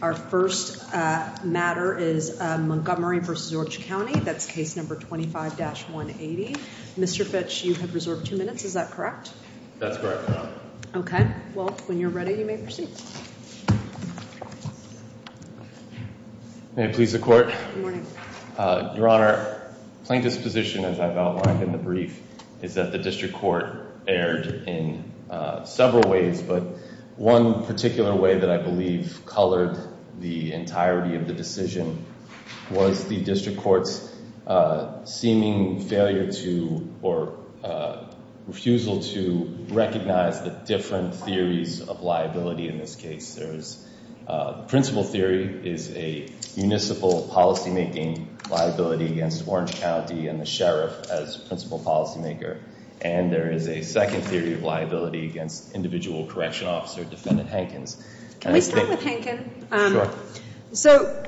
Our first matter is Montgomery v. Orange County. That's case number 25-180. Mr. Fitch, you have reserved two minutes. Is that correct? That's correct, Your Honor. Okay. Well, when you're ready, you may proceed. May it please the Court? Good morning. Your Honor, plain disposition, as I've outlined in the brief, is that the District Court erred in several ways, but one particular way that I believe colored the entirety of the decision was the District Court's seeming failure to, or refusal to, recognize the different theories of liability in this case. The principal theory is a municipal policymaking liability against Orange County and the sheriff as principal policymaker, and there is a second theory of liability against individual correction officer, Defendant Hankins. Can we start with Hankins? Sure. So,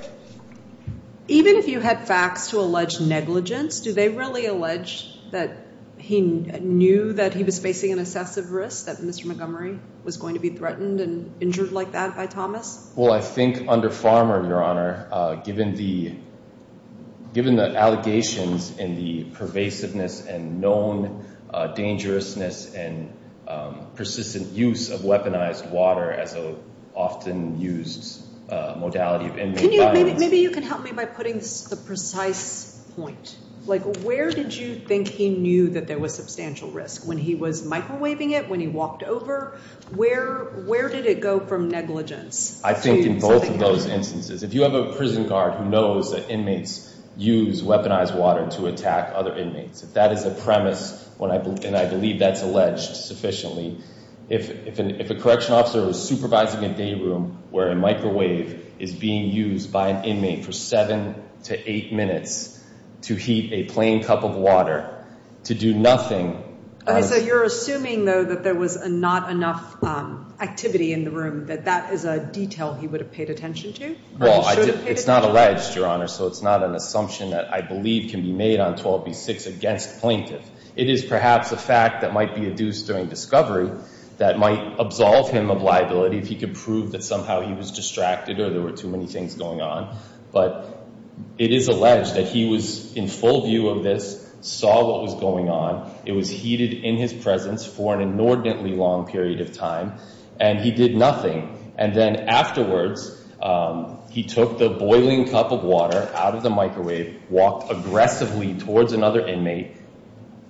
even if you had facts to allege negligence, do they really allege that he knew that he was facing an excessive risk, that Mr. Montgomery was going to be threatened and injured like that by Thomas? Well, I think under Farmer, Your Honor, given the allegations and the pervasiveness and known dangerousness and persistent use of weaponized water as an often used modality of ending violence. Maybe you can help me by putting the precise point. Like, where did you think he knew that there was substantial risk? When he was microwaving it? When he walked over? Where did it go from negligence? I think in both of those instances. If you have a prison guard who knows that inmates use weaponized water to attack other inmates, if that is a premise, and I believe that's alleged sufficiently, if a correction officer was supervising a day room where a microwave is being used by an inmate for seven to eight minutes to heat a plain cup of water to do nothing. So you're assuming, though, that there was not enough activity in the room, that that is a detail he would have paid attention to? Well, it's not alleged, Your Honor, so it's not an assumption that I believe can be made on 12B6 against plaintiff. It is perhaps a fact that might be adduced during discovery that might absolve him of liability if he could prove that somehow he was distracted or there were too many things going on. But it is alleged that he was in full view of this, saw what was going on. It was heated in his presence for an inordinately long period of time, and he did nothing. And then afterwards, he took the boiling cup of water out of the microwave, walked aggressively towards another inmate,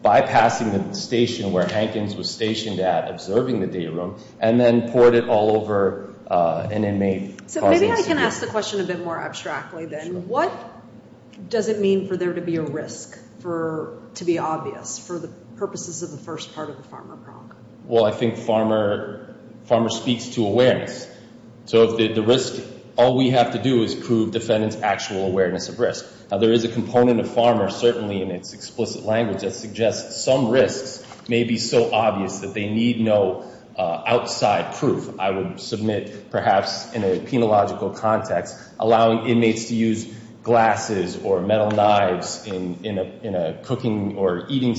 bypassing the station where Hankins was stationed at observing the day room, and then poured it all over an inmate. So maybe I can ask the question a bit more abstractly, then. What does it mean for there to be a risk, to be obvious, for the purposes of the first part of the farmer prong? Well, I think farmer speaks to awareness. So if the risk, all we have to do is prove defendant's actual awareness of risk. Now, there is a component of farmer, certainly in its explicit language, that suggests some risks may be so obvious that they need no outside proof. I would submit, perhaps in a penological context, allowing inmates to use glasses or metal knives in a cooking or eating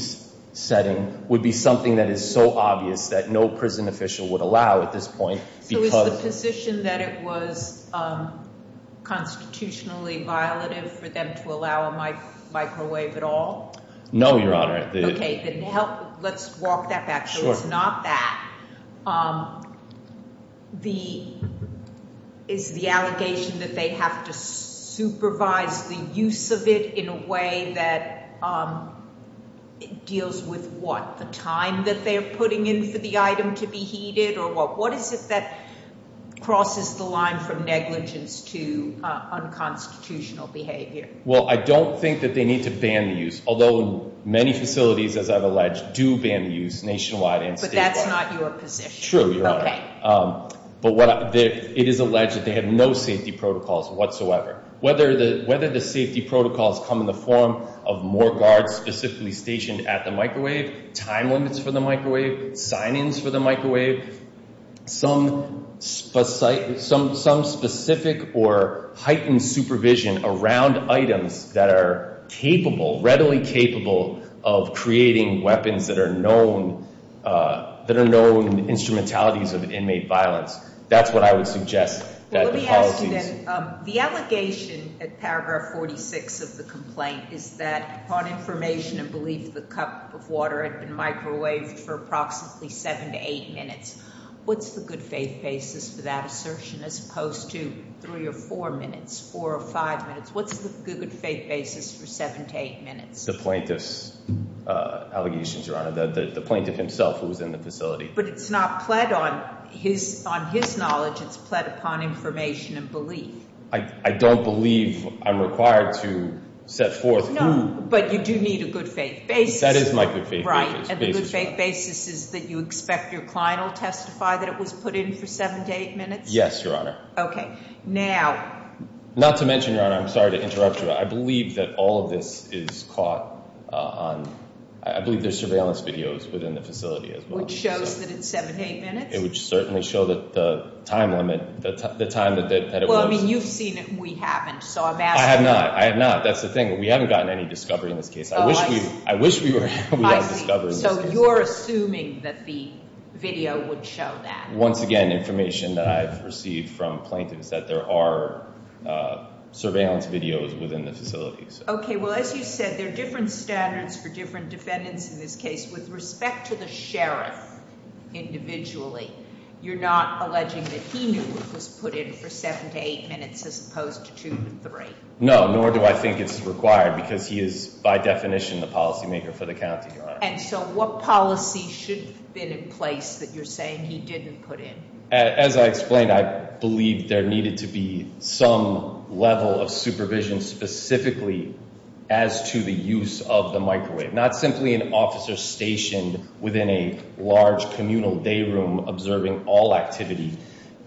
setting would be something that is so obvious that no prison official would allow at this point. So is the position that it was constitutionally violative for them to allow a microwave at all? No, Your Honor. Okay, then let's walk that back. So it's not that. Is the allegation that they have to supervise the use of it in a way that deals with, what, the time that they're putting in for the item to be heated, or what? What is it that crosses the line from negligence to unconstitutional behavior? Well, I don't think that they need to ban the use, although many facilities, as I've alleged, do ban the use nationwide and statewide. But that's not your position. True, Your Honor. Okay. But it is alleged that they have no safety protocols whatsoever. Whether the safety protocols come in the form of more guards specifically stationed at the microwave, time limits for the microwave, sign-ins for the microwave, some specific or heightened supervision around items that are capable, readily capable, of creating weapons that are known instrumentalities of inmate violence. That's what I would suggest. Well, let me ask you then. The allegation at paragraph 46 of the complaint is that upon information and belief the cup of water had been microwaved for approximately 7 to 8 minutes. What's the good faith basis for that assertion as opposed to 3 or 4 minutes, 4 or 5 minutes? What's the good faith basis for 7 to 8 minutes? The plaintiff's allegations, Your Honor. The plaintiff himself who was in the facility. But it's not pled on his knowledge. It's pled upon information and belief. I don't believe I'm required to set forth who. No, but you do need a good faith basis. That is my good faith basis. Right. And the good faith basis is that you expect your client will testify that it was put in for 7 to 8 minutes? Yes, Your Honor. Okay. Now. Not to mention, Your Honor, I'm sorry to interrupt you. I believe that all of this is caught on, I believe there's surveillance videos within the facility as well. Which shows that it's 7 to 8 minutes? It would certainly show the time limit, the time that it was. Well, I mean, you've seen it and we haven't. So I'm asking. I have not. I have not. That's the thing. We haven't gotten any discovery in this case. I wish we were. I see. So you're assuming that the video would show that. Once again, information that I've received from plaintiffs that there are surveillance videos within the facility. Okay. Well, as you said, there are different standards for different defendants in this case. With respect to the sheriff individually, you're not alleging that he knew it was put in for 7 to 8 minutes as opposed to 2 to 3? No. Nor do I think it's required because he is, by definition, the policy maker for the county. And so what policy should have been in place that you're saying he didn't put in? As I explained, I believe there needed to be some level of supervision specifically as to the use of the microwave. Not simply an officer stationed within a large communal day room observing all activity.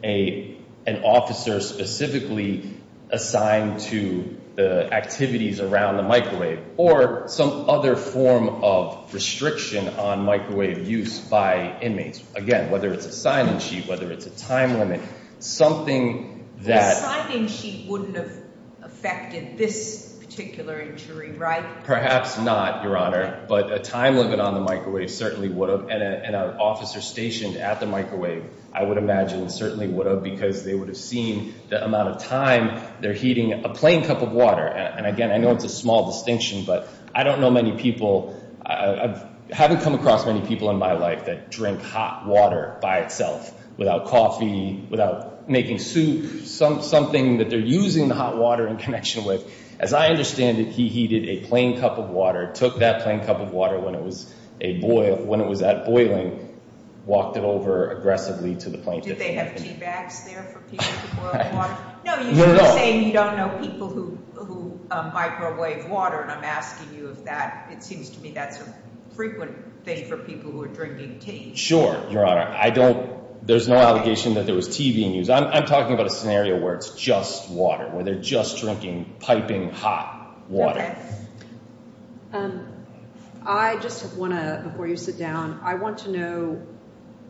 An officer specifically assigned to the activities around the microwave. Or some other form of restriction on microwave use by inmates. Again, whether it's a sign-in sheet, whether it's a time limit. A sign-in sheet wouldn't have affected this particular injury, right? Perhaps not, Your Honor. But a time limit on the microwave certainly would have. And an officer stationed at the microwave, I would imagine, certainly would have because they would have seen the amount of time they're heating a plain cup of water. And again, I know it's a small distinction, but I don't know many people, I haven't come across many people in my life that drink hot water by itself. Without coffee, without making soup. Something that they're using the hot water in connection with. As I understand it, he heated a plain cup of water, took that plain cup of water when it was at boiling, walked it over aggressively to the plaintiff. Did they have tea bags there for people to boil water? No, you're saying you don't know people who microwave water. And I'm asking you if that, it seems to me that's a frequent thing for people who are drinking tea. Sure, Your Honor. I don't, there's no allegation that there was tea being used. I'm talking about a scenario where it's just water. Where they're just drinking piping hot water. I just want to, before you sit down, I want to know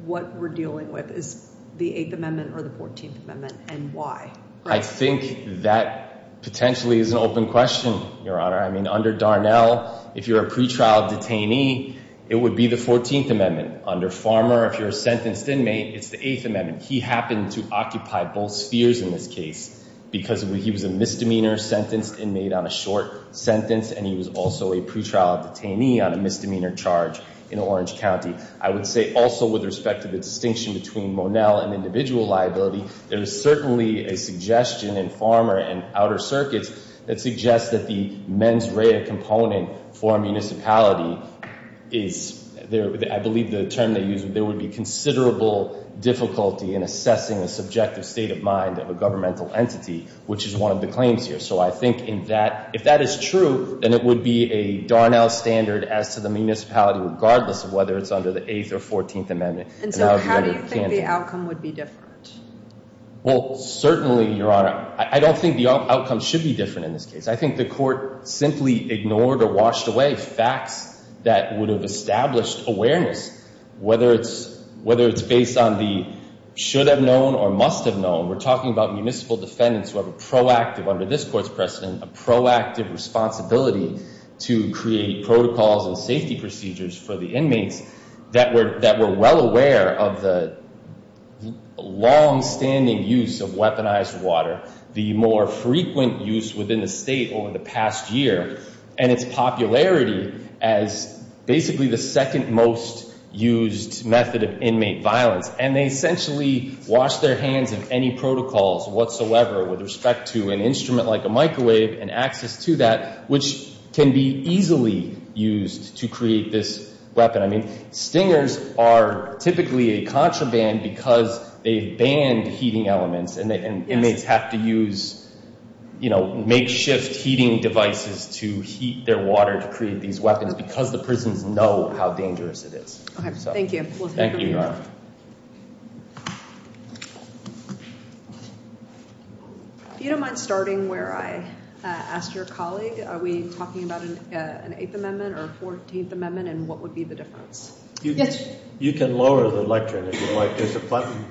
what we're dealing with. Is the 8th Amendment or the 14th Amendment and why? I think that potentially is an open question, Your Honor. I mean, under Darnell, if you're a pretrial detainee, it would be the 14th Amendment. Under Farmer, if you're a sentenced inmate, it's the 8th Amendment. He happened to occupy both spheres in this case because he was a misdemeanor sentenced inmate on a short sentence. And he was also a pretrial detainee on a misdemeanor charge in Orange County. I would say also with respect to the distinction between Monell and individual liability, there is certainly a suggestion in Farmer and Outer Circuits that suggests that the mens rea component for a municipality is, I believe the term they use, there would be considerable difficulty in assessing a subjective state of mind of a governmental entity, which is one of the claims here. So I think if that is true, then it would be a Darnell standard as to the municipality, regardless of whether it's under the 8th or 14th Amendment. And so how do you think the outcome would be different? Well, certainly, Your Honor, I don't think the outcome should be different in this case. I think the court simply ignored or washed away facts that would have established awareness, whether it's based on the should have known or must have known. We're talking about municipal defendants who have a proactive, under this court's precedent, a proactive responsibility to create protocols and safety procedures for the inmates that were well aware of the longstanding use of weaponized water, the more frequent use within the state over the past year, and its popularity as basically the second most used method of inmate violence. And they essentially washed their hands of any protocols whatsoever with respect to an instrument like a microwave and access to that, which can be easily used to create this weapon. I mean, stingers are typically a contraband because they've banned heating elements, and inmates have to use makeshift heating devices to heat their water to create these weapons because the prisons know how dangerous it is. Thank you. Thank you, Your Honor. If you don't mind starting where I asked your colleague, are we talking about an Eighth Amendment or a 14th Amendment, and what would be the difference? Yes. You can lower the lectern if you like. There's a button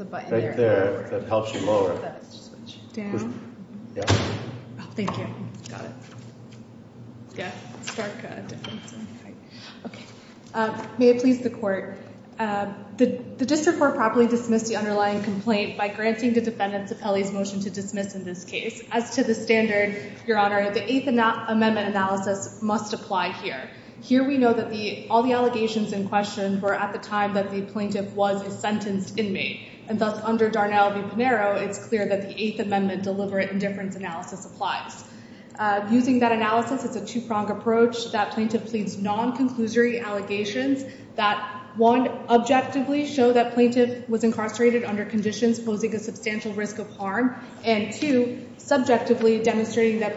right there that helps you lower it. Down? Yeah. Oh, thank you. Got it. Yeah, stark difference. Okay. May it please the court. The district court properly dismissed the underlying complaint by granting the defendant's appellee's motion to dismiss in this case. As to the standard, Your Honor, the Eighth Amendment analysis must apply here. Here we know that all the allegations in question were at the time that the plaintiff was a sentenced inmate, and thus under Darnell v. Pinheiro, it's clear that the Eighth Amendment deliberate indifference analysis applies. Using that analysis, it's a two-pronged approach that plaintiff pleads non-conclusory allegations that, one, objectively show that plaintiff was incarcerated under conditions posing a substantial risk of harm, and, two, subjectively demonstrating that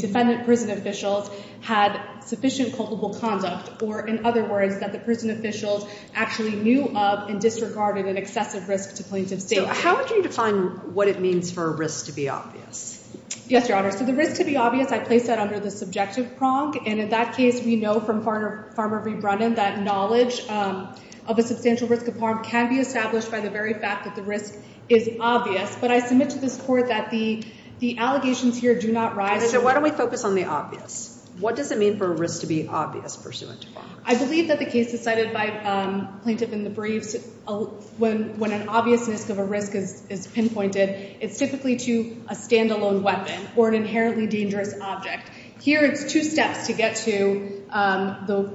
defendant prison officials had sufficient culpable conduct, or, in other words, that the prison officials actually knew of and disregarded an excessive risk to plaintiff's safety. How would you define what it means for a risk to be obvious? Yes, Your Honor. So the risk to be obvious, I place that under the subjective prong, and in that case we know from Farmer v. Brennan that knowledge of a substantial risk of harm can be established by the very fact that the risk is obvious, but I submit to this court that the allegations here do not rise to that. So why don't we focus on the obvious? What does it mean for a risk to be obvious pursuant to Farmer v. Brennan? I believe that the case decided by plaintiff in the briefs, when an obvious risk of a risk is pinpointed, it's typically to a standalone weapon or an inherently dangerous object. Here it's two steps to get to the,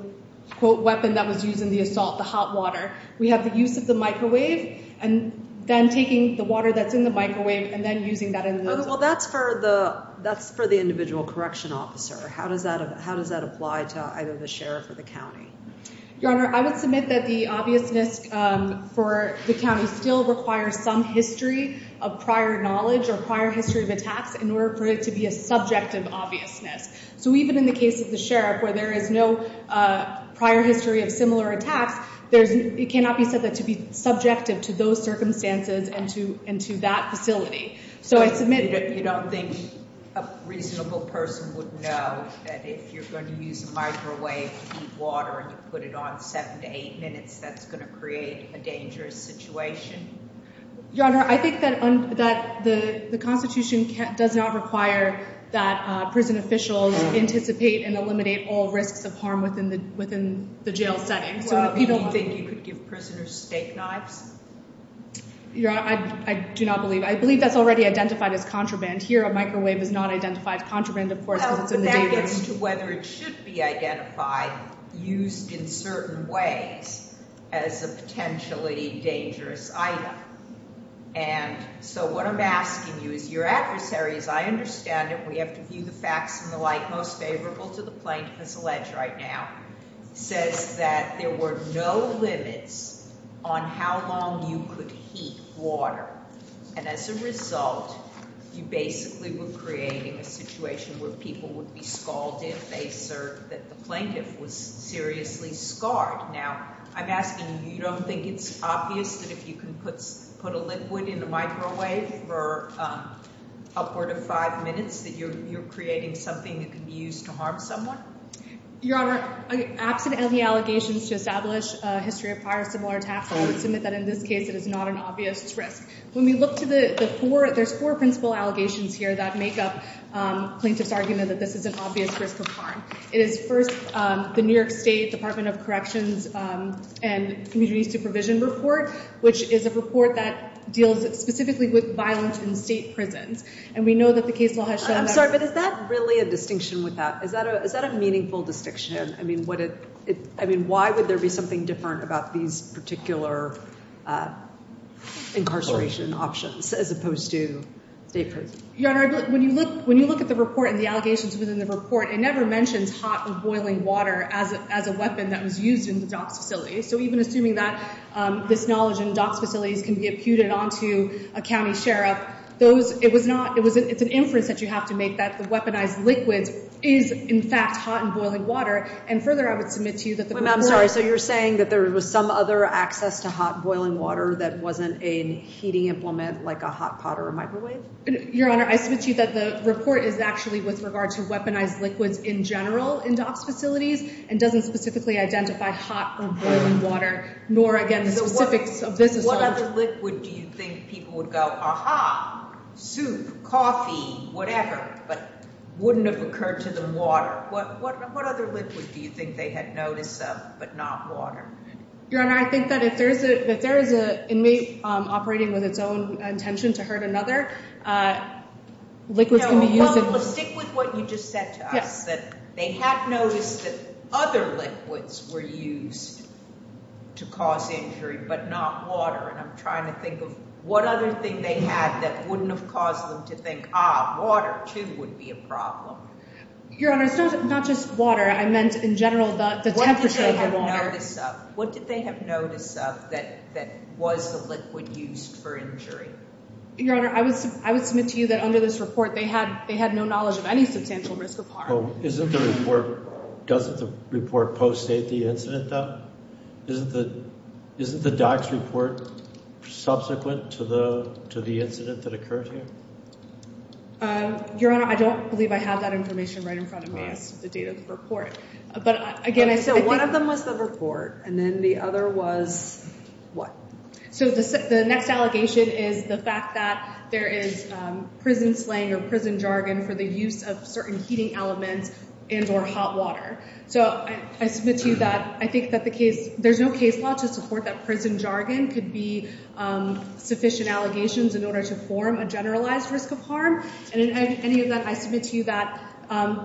quote, weapon that was used in the assault, the hot water. We have the use of the microwave and then taking the water that's in the microwave and then using that in the assault. Well, that's for the individual correction officer. How does that apply to either the sheriff or the county? Your Honor, I would submit that the obviousness for the county still requires some history of prior knowledge or prior history of attacks in order for it to be a subjective obviousness. So even in the case of the sheriff where there is no prior history of similar attacks, it cannot be said that to be subjective to those circumstances and to that facility. You don't think a reasonable person would know that if you're going to use a microwave to heat water and you put it on seven to eight minutes, that's going to create a dangerous situation? Your Honor, I think that the Constitution does not require that prison officials anticipate and eliminate all risks of harm within the jail setting. Do you think you could give prisoners steak knives? Your Honor, I do not believe. I believe that's already identified as contraband. Here, a microwave is not identified as contraband, of course, because it's in the database. Well, that gets to whether it should be identified, used in certain ways, as a potentially dangerous item. And so what I'm asking you is your adversary, as I understand it, we have to view the facts and the like most favorable to the plaintiff as alleged right now, says that there were no limits on how long you could heat water. And as a result, you basically were creating a situation where people would be scalded if they served, that the plaintiff was seriously scarred. Now, I'm asking, you don't think it's obvious that if you can put a liquid in a microwave for upward of five minutes that you're creating something that can be used to harm someone? Your Honor, absent any allegations to establish a history of prior similar attacks, I would submit that in this case it is not an obvious risk. When we look to the four, there's four principal allegations here that make up plaintiff's argument that this is an obvious risk of harm. It is first the New York State Department of Corrections and Community Supervision report, which is a report that deals specifically with violence in state prisons. And we know that the case law has shown that. I'm sorry, but is that really a distinction with that? Is that a meaningful distinction? I mean, why would there be something different about these particular incarceration options as opposed to state prisons? Your Honor, when you look at the report and the allegations within the report, it never mentions hot or boiling water as a weapon that was used in the DOCS facilities. So even assuming that this knowledge in DOCS facilities can be imputed onto a county sheriff, it's an inference that you have to make that the weaponized liquid is, in fact, hot and boiling water. And further, I would submit to you that the report— Wait a minute. I'm sorry. So you're saying that there was some other access to hot, boiling water that wasn't a heating implement like a hot pot or a microwave? Your Honor, I submit to you that the report is actually with regard to weaponized liquids in general in DOCS facilities and doesn't specifically identify hot or boiling water, nor, again, the specifics of this assault. What other liquid do you think people would go, Aha, soup, coffee, whatever, but wouldn't have occurred to them water? What other liquid do you think they had notice of but not water? Your Honor, I think that if there is an inmate operating with its own intention to hurt another, liquids can be used— Well, stick with what you just said to us, that they had noticed that other liquids were used to cause injury but not water. And I'm trying to think of what other thing they had that wouldn't have caused them to think, Ah, water, too, would be a problem. Your Honor, it's not just water. I meant in general the temperature of the water. What did they have notice of? What did they have notice of that was the liquid used for injury? Your Honor, I would submit to you that under this report, they had no knowledge of any substantial risk of harm. Isn't the report—doesn't the report post-state the incident, though? Isn't the docs report subsequent to the incident that occurred here? Your Honor, I don't believe I have that information right in front of me as to the date of the report. But, again, I think— So one of them was the report, and then the other was what? So the next allegation is the fact that there is prison slang or prison jargon for the use of certain heating elements and or hot water. So I submit to you that I think that the case— there's no case law to support that prison jargon could be sufficient allegations in order to form a generalized risk of harm. And in any event, I submit to you that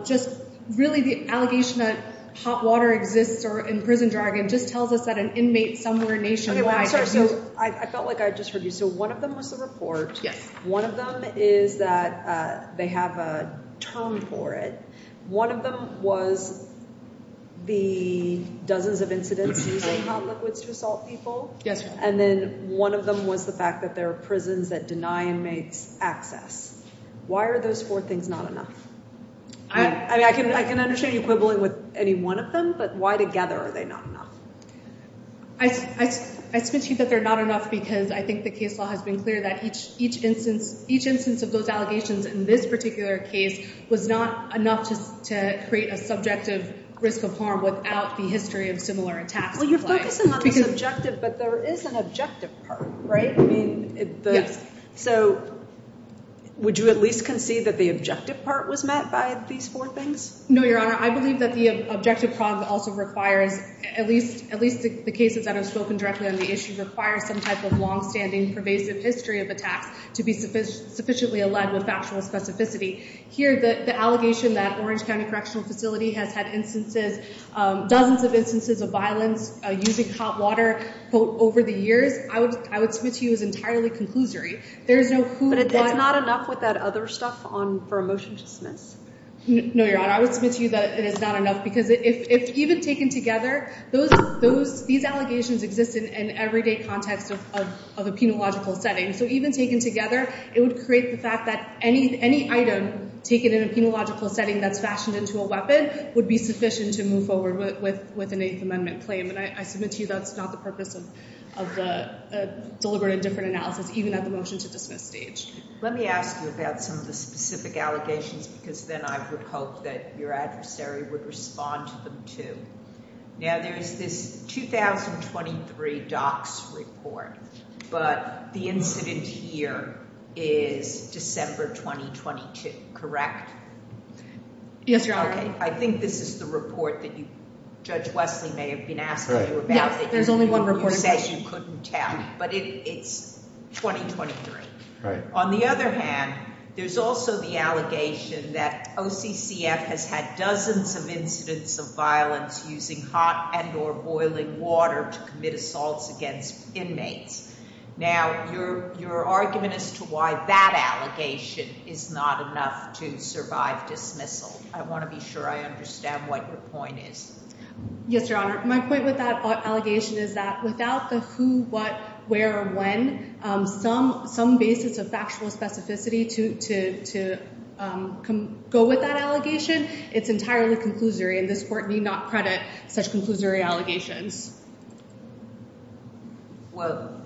just really the allegation that hot water exists or in prison jargon just tells us that an inmate somewhere nationwide— Okay, well, I'm sorry. So I felt like I just heard you. So one of them was the report. Yes. One of them is that they have a term for it. One of them was the dozens of incidents using hot liquids to assault people. Yes, Your Honor. And then one of them was the fact that there are prisons that deny inmates access. Why are those four things not enough? I mean, I can understand you quibbling with any one of them, but why together are they not enough? I submit to you that they're not enough because I think the case law has been clear that each instance of those allegations in this particular case was not enough to create a subjective risk of harm without the history of similar attacks. Well, you're focusing on the subjective, but there is an objective part, right? Yes. So would you at least concede that the objective part was met by these four things? No, Your Honor. I believe that the objective part also requires— at least the cases that have spoken directly on the issue— requires some type of longstanding, pervasive history of attacks to be sufficiently aligned with factual specificity. Here, the allegation that Orange County Correctional Facility has had instances, dozens of instances of violence using hot water, quote, over the years, I would submit to you is entirely conclusory. But it's not enough with that other stuff for a motion to dismiss? No, Your Honor. I would submit to you that it is not enough because if even taken together, these allegations exist in an everyday context of a penological setting. So even taken together, it would create the fact that any item taken in a penological setting that's fashioned into a weapon would be sufficient to move forward with an Eighth Amendment claim. And I submit to you that's not the purpose of the deliberate and different analysis, even at the motion to dismiss stage. Let me ask you about some of the specific allegations because then I would hope that your adversary would respond to them too. Now, there's this 2023 docs report, but the incident here is December 2022, correct? Yes, Your Honor. I think this is the report that Judge Wesley may have been asking you about. There's only one report. You said you couldn't tell, but it's 2023. Right. On the other hand, there's also the allegation that OCCF has had dozens of incidents of violence using hot and or boiling water to commit assaults against inmates. Now, your argument as to why that allegation is not enough to survive dismissal, I want to be sure I understand what your point is. Yes, Your Honor. My point with that allegation is that without the who, what, where, or when, some basis of factual specificity to go with that allegation, it's entirely conclusory, and this court need not credit such conclusory allegations. Well,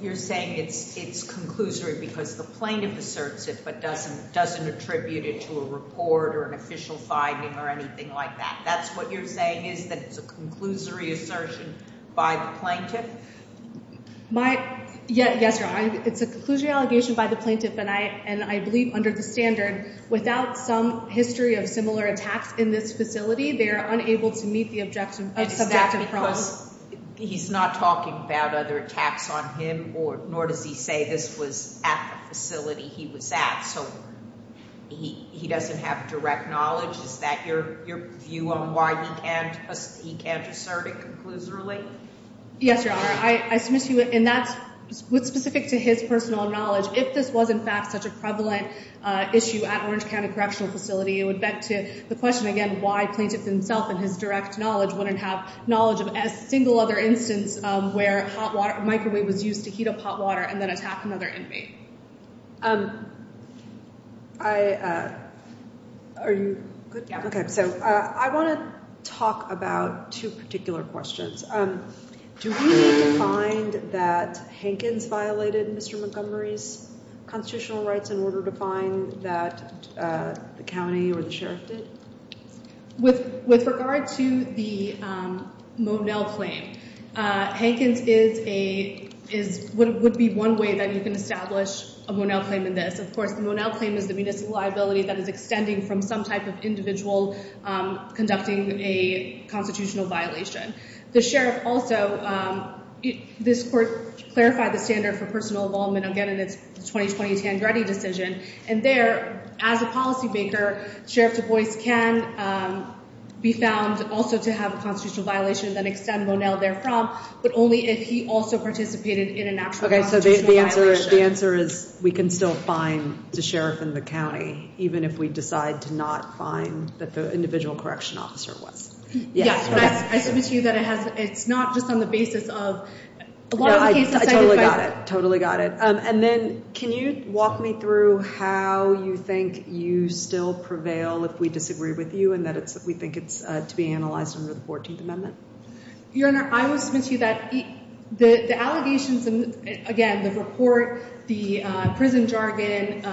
you're saying it's conclusory because the plaintiff asserts it but doesn't attribute it to a report or an official finding or anything like that. That's what you're saying is that it's a conclusory assertion by the plaintiff? Yes, Your Honor. It's a conclusory allegation by the plaintiff, and I believe under the standard, without some history of similar attacks in this facility, they are unable to meet the objective of subjective problems. He's not talking about other attacks on him, nor does he say this was at the facility he was at, so he doesn't have direct knowledge. Is that your view on why he can't assert it conclusorily? Yes, Your Honor. I submiss you, and that's specific to his personal knowledge. If this was, in fact, such a prevalent issue at Orange County Correctional Facility, it would bet to the question, again, why plaintiff himself and his direct knowledge wouldn't have knowledge of a single other instance where microwave was used to heat up hot water and then attack another inmate. Are you good? Yeah. Okay, so I want to talk about two particular questions. Do we need to find that Hankins violated Mr. Montgomery's constitutional rights in order to find that the county or the sheriff did? With regard to the Monell claim, Hankins would be one way that you can establish a Monell claim in this. Of course, the Monell claim is the municipal liability that is extending from some type of individual conducting a constitutional violation. The sheriff also, this court clarified the standard for personal involvement again in its 2020 Tangredi decision, and there, as a policymaker, Sheriff Du Bois can be found also to have a constitutional violation and then extend Monell therefrom, but only if he also participated in an actual constitutional violation. Okay, so the answer is we can still find the sheriff in the county, even if we decide to not find that the individual correction officer was. Yes. I submit to you that it's not just on the basis of a lot of cases. I totally got it. And then can you walk me through how you think you still prevail if we disagree with you and that we think it's to be analyzed under the 14th Amendment? Your Honor, I will submit to you that the allegations, again, the report, the prison jargon,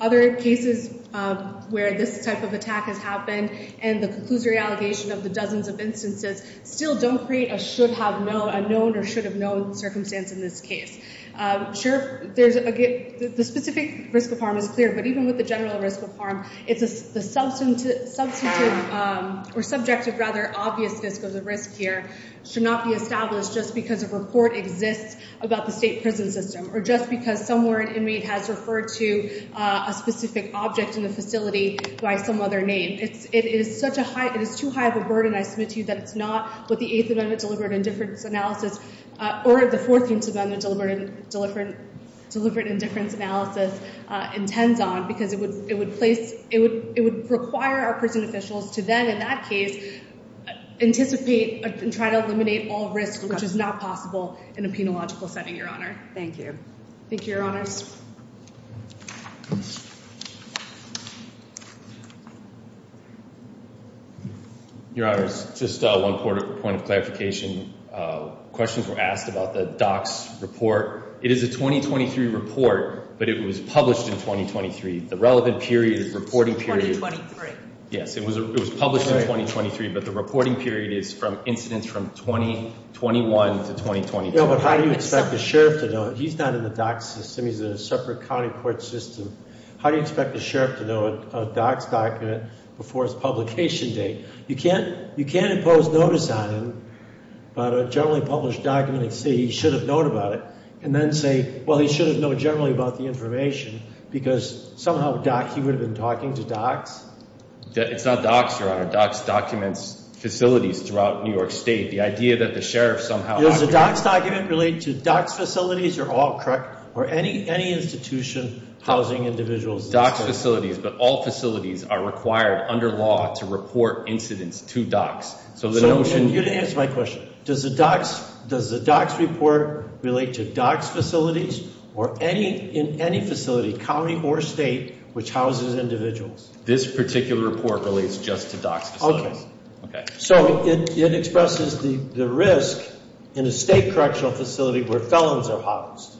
other cases where this type of attack has happened, and the conclusory allegation of the dozens of instances still don't create a should have known, a known or should have known circumstance in this case. Sure, the specific risk of harm is clear, but even with the general risk of harm, the substantive or subjective rather obvious risk of the risk here should not be established just because a report exists about the state prison system or just because somewhere an inmate has referred to a specific object in the facility by some other name. It is too high of a burden, I submit to you, that it's not what the 8th Amendment Deliberate Indifference Analysis or the 14th Amendment Deliberate Indifference Analysis intends on because it would require our prison officials to then, in that case, anticipate and try to eliminate all risk which is not possible in a penological setting, Your Honor. Thank you. Thank you, Your Honors. Your Honors, just one point of clarification. Questions were asked about the docs report. It is a 2023 report, but it was published in 2023. The relevant period is reporting period. It's 2023. Yes, it was published in 2023, but the reporting period is from incidents from 2021 to 2022. No, but how do you expect the sheriff to know? He's not in the docs system. He's in a separate county court system. How do you expect the sheriff to know a docs document before its publication date? You can't impose notice on him about a generally published document and say he should have known about it and then say, well, he should have known generally about the information because somehow he would have been talking to docs? It's not docs, Your Honor. Docs documents facilities throughout New York State. The idea that the sheriff somehow… Is the docs document related to docs facilities? You're all correct. Or any institution, housing, individuals? It's docs facilities, but all facilities are required under law to report incidents to docs. You didn't answer my question. Does the docs report relate to docs facilities or in any facility, county or state, which houses individuals? This particular report relates just to docs facilities. Okay. So it expresses the risk in a state correctional facility where felons are housed,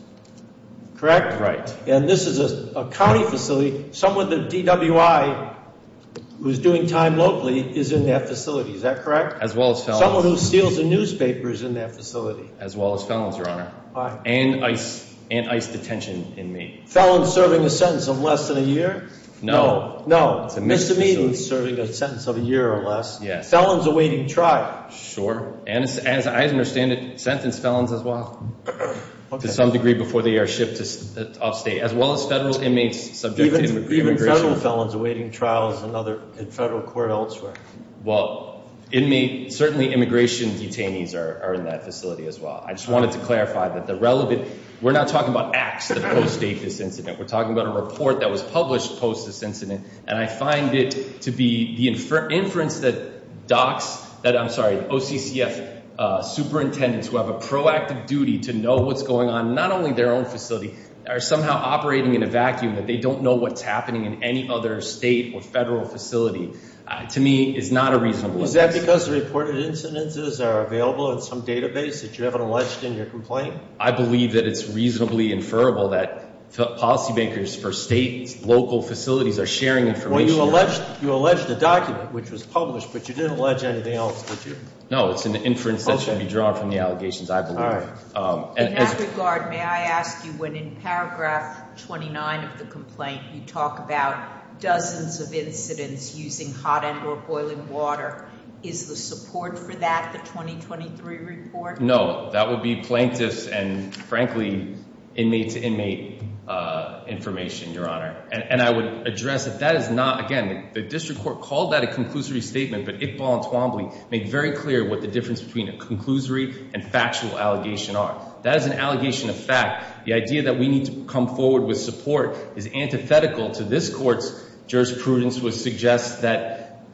correct? Right. And this is a county facility. Someone with a DWI who is doing time locally is in that facility, is that correct? As well as felons. Someone who steals a newspaper is in that facility. As well as felons, Your Honor. And ICE detention inmate. Felons serving a sentence of less than a year? No. Misdemeanors serving a sentence of a year or less. Yes. Felons awaiting trial. Sure. And as I understand it, sentence felons as well to some degree before they are shipped off state. As well as federal inmates subject to immigration. Even federal felons awaiting trials in federal court elsewhere. Well, certainly immigration detainees are in that facility as well. I just wanted to clarify that the relevant, we're not talking about acts that post-date this incident. We're talking about a report that was published post this incident. And I find it to be the inference that OCCF superintendents who have a proactive duty to know what's going on, not only their own facility. Are somehow operating in a vacuum. That they don't know what's happening in any other state or federal facility. To me, is not a reasonable inference. Is that because the reported incidences are available in some database that you haven't alleged in your complaint? I believe that it's reasonably inferable that policy makers for states, local facilities are sharing information. Well, you alleged a document which was published, but you didn't allege anything else, did you? No, it's an inference that should be drawn from the allegations, I believe. In that regard, may I ask you when in paragraph 29 of the complaint you talk about dozens of incidents using hot end or boiling water. Is the support for that the 2023 report? No, that would be plaintiffs and frankly, inmate to inmate information, your honor. And I would address that that is not, again, the district court called that a conclusory statement. But Iqbal and Twombly made very clear what the difference between a conclusory and factual allegation are. That is an allegation of fact. The idea that we need to come forward with support is antithetical to this court's jurisprudence.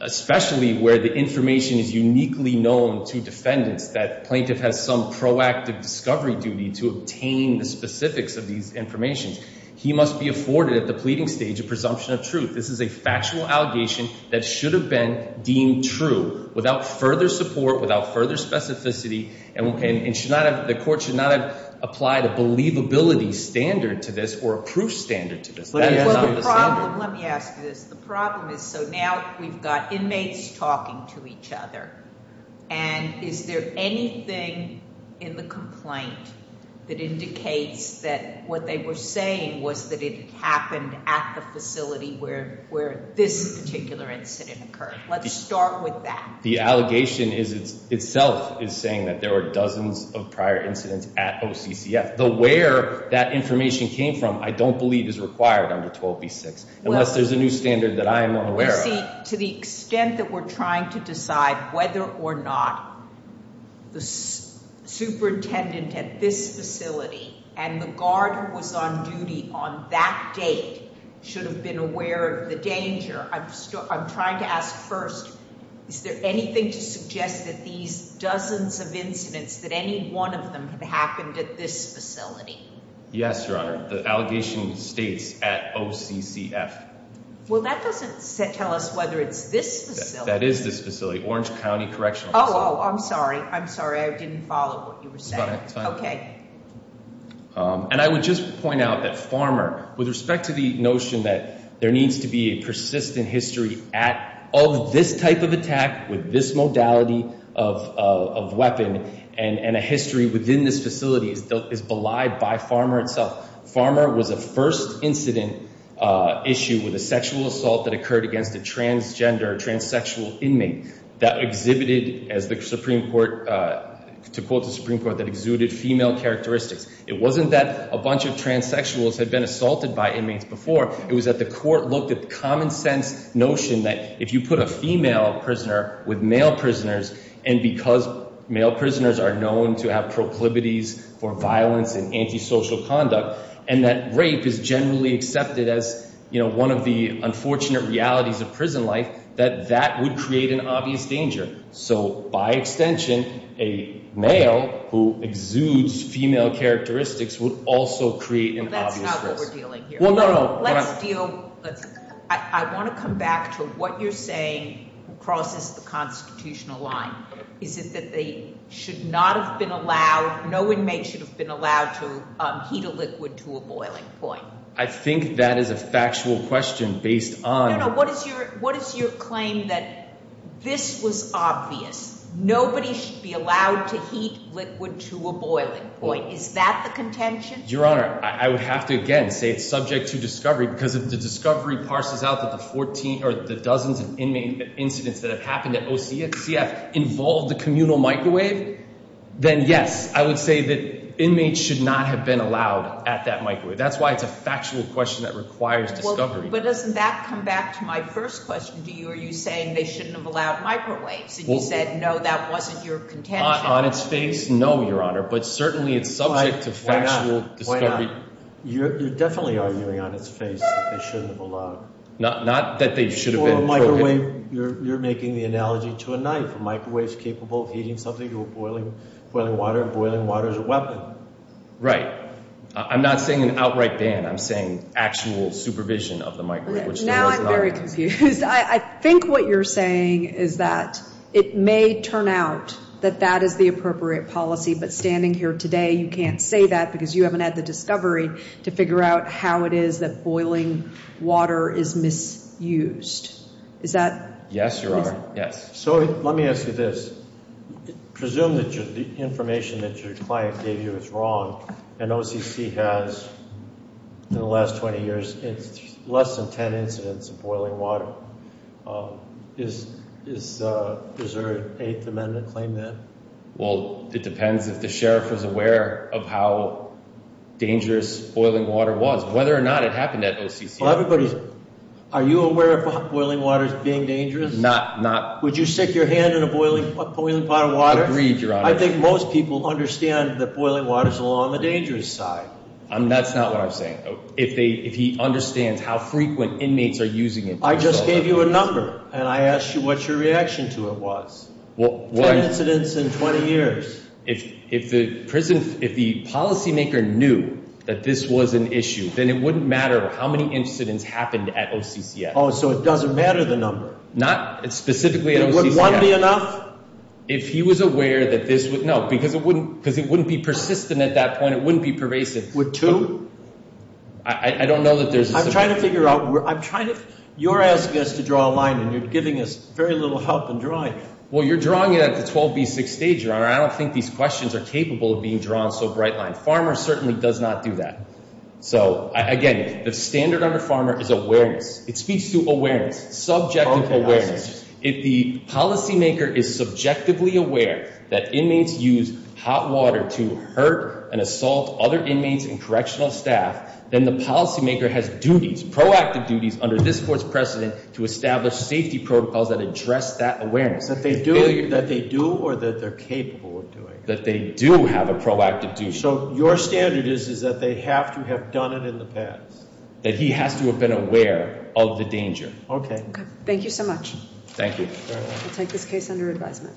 Especially where the information is uniquely known to defendants, that plaintiff has some proactive discovery duty to obtain the specifics of these information. He must be afforded at the pleading stage a presumption of truth. This is a factual allegation that should have been deemed true without further support, without further specificity. And the court should not have applied a believability standard to this or a proof standard to this. Let me ask you this. The problem is, so now we've got inmates talking to each other. And is there anything in the complaint that indicates that what they were saying was that it happened at the facility where this particular incident occurred? Let's start with that. The allegation itself is saying that there were dozens of prior incidents at OCCF. The where that information came from I don't believe is required under 12B6 unless there's a new standard that I am aware of. You see, to the extent that we're trying to decide whether or not the superintendent at this facility and the guard who was on duty on that date should have been aware of the danger. I'm trying to ask first, is there anything to suggest that these dozens of incidents that any one of them have happened at this facility? Yes, Your Honor. The allegation states at OCCF. Well, that doesn't tell us whether it's this facility. That is this facility, Orange County Correctional Facility. Oh, I'm sorry. I'm sorry. I didn't follow what you were saying. It's fine. Okay. And I would just point out that Farmer, with respect to the notion that there needs to be a persistent history of this type of attack with this modality of weapon and a history within this facility is belied by Farmer itself. Farmer was a first incident issue with a sexual assault that occurred against a transgender, transsexual inmate that exhibited, to quote the Supreme Court, that exuded female characteristics. It wasn't that a bunch of transsexuals had been assaulted by inmates before. It was that the court looked at the common sense notion that if you put a female prisoner with male prisoners, and because male prisoners are known to have proclivities for violence and antisocial conduct, and that rape is generally accepted as one of the unfortunate realities of prison life, that that would create an obvious danger. So, by extension, a male who exudes female characteristics would also create an obvious risk. Well, that's not what we're dealing here. Well, no, no. Let's deal – I want to come back to what you're saying crosses the constitutional line. Is it that they should not have been allowed – no inmate should have been allowed to heat a liquid to a boiling point? I think that is a factual question based on – No, no. What is your claim that this was obvious? Nobody should be allowed to heat liquid to a boiling point. Is that the contention? Your Honor, I would have to, again, say it's subject to discovery because if the discovery parses out that the dozens of inmate incidents that have happened at OCF involved the communal microwave, then, yes, I would say that inmates should not have been allowed at that microwave. That's why it's a factual question that requires discovery. But doesn't that come back to my first question to you? Are you saying they shouldn't have allowed microwaves and you said, no, that wasn't your contention? No, Your Honor, but certainly it's subject to factual discovery. You're definitely arguing on its face that they shouldn't have allowed. Not that they should have been. You're making the analogy to a knife. A microwave is capable of heating something to a boiling water and boiling water is a weapon. Right. I'm not saying an outright ban. I'm saying actual supervision of the microwave, which there was not. Now I'm very confused. I think what you're saying is that it may turn out that that is the appropriate policy. But standing here today, you can't say that because you haven't had the discovery to figure out how it is that boiling water is misused. Is that? Yes, Your Honor. Yes. So let me ask you this. Presume that the information that your client gave you is wrong and OCC has, in the last 20 years, less than 10 incidents of boiling water. Is there an Eighth Amendment claim to that? Well, it depends if the sheriff is aware of how dangerous boiling water was, whether or not it happened at OCC. Are you aware of boiling water as being dangerous? Not. Would you stick your hand in a boiling pot of water? Agreed, Your Honor. I think most people understand that boiling water is on the dangerous side. That's not what I'm saying. If he understands how frequent inmates are using it. I just gave you a number and I asked you what your reaction to it was. 10 incidents in 20 years. If the policymaker knew that this was an issue, then it wouldn't matter how many incidents happened at OCC. Oh, so it doesn't matter the number? Not specifically at OCC. Would one be enough? If he was aware that this would, no, because it wouldn't be persistent at that point. It wouldn't be pervasive. Would two? I don't know that there's a. I'm trying to figure out. You're asking us to draw a line and you're giving us very little help in drawing it. Well, you're drawing it at the 12B6 stage, Your Honor. I don't think these questions are capable of being drawn so bright line. Farmers certainly does not do that. So, again, the standard under farmer is awareness. It speaks to awareness, subjective awareness. If the policymaker is subjectively aware that inmates use hot water to hurt and assault other inmates and correctional staff, then the policymaker has duties, proactive duties under this court's precedent to establish safety protocols that address that awareness. That they do or that they're capable of doing? That they do have a proactive duty. So your standard is that they have to have done it in the past? That he has to have been aware of the danger. Okay. Thank you so much. Thank you. I'll take this case under advisement.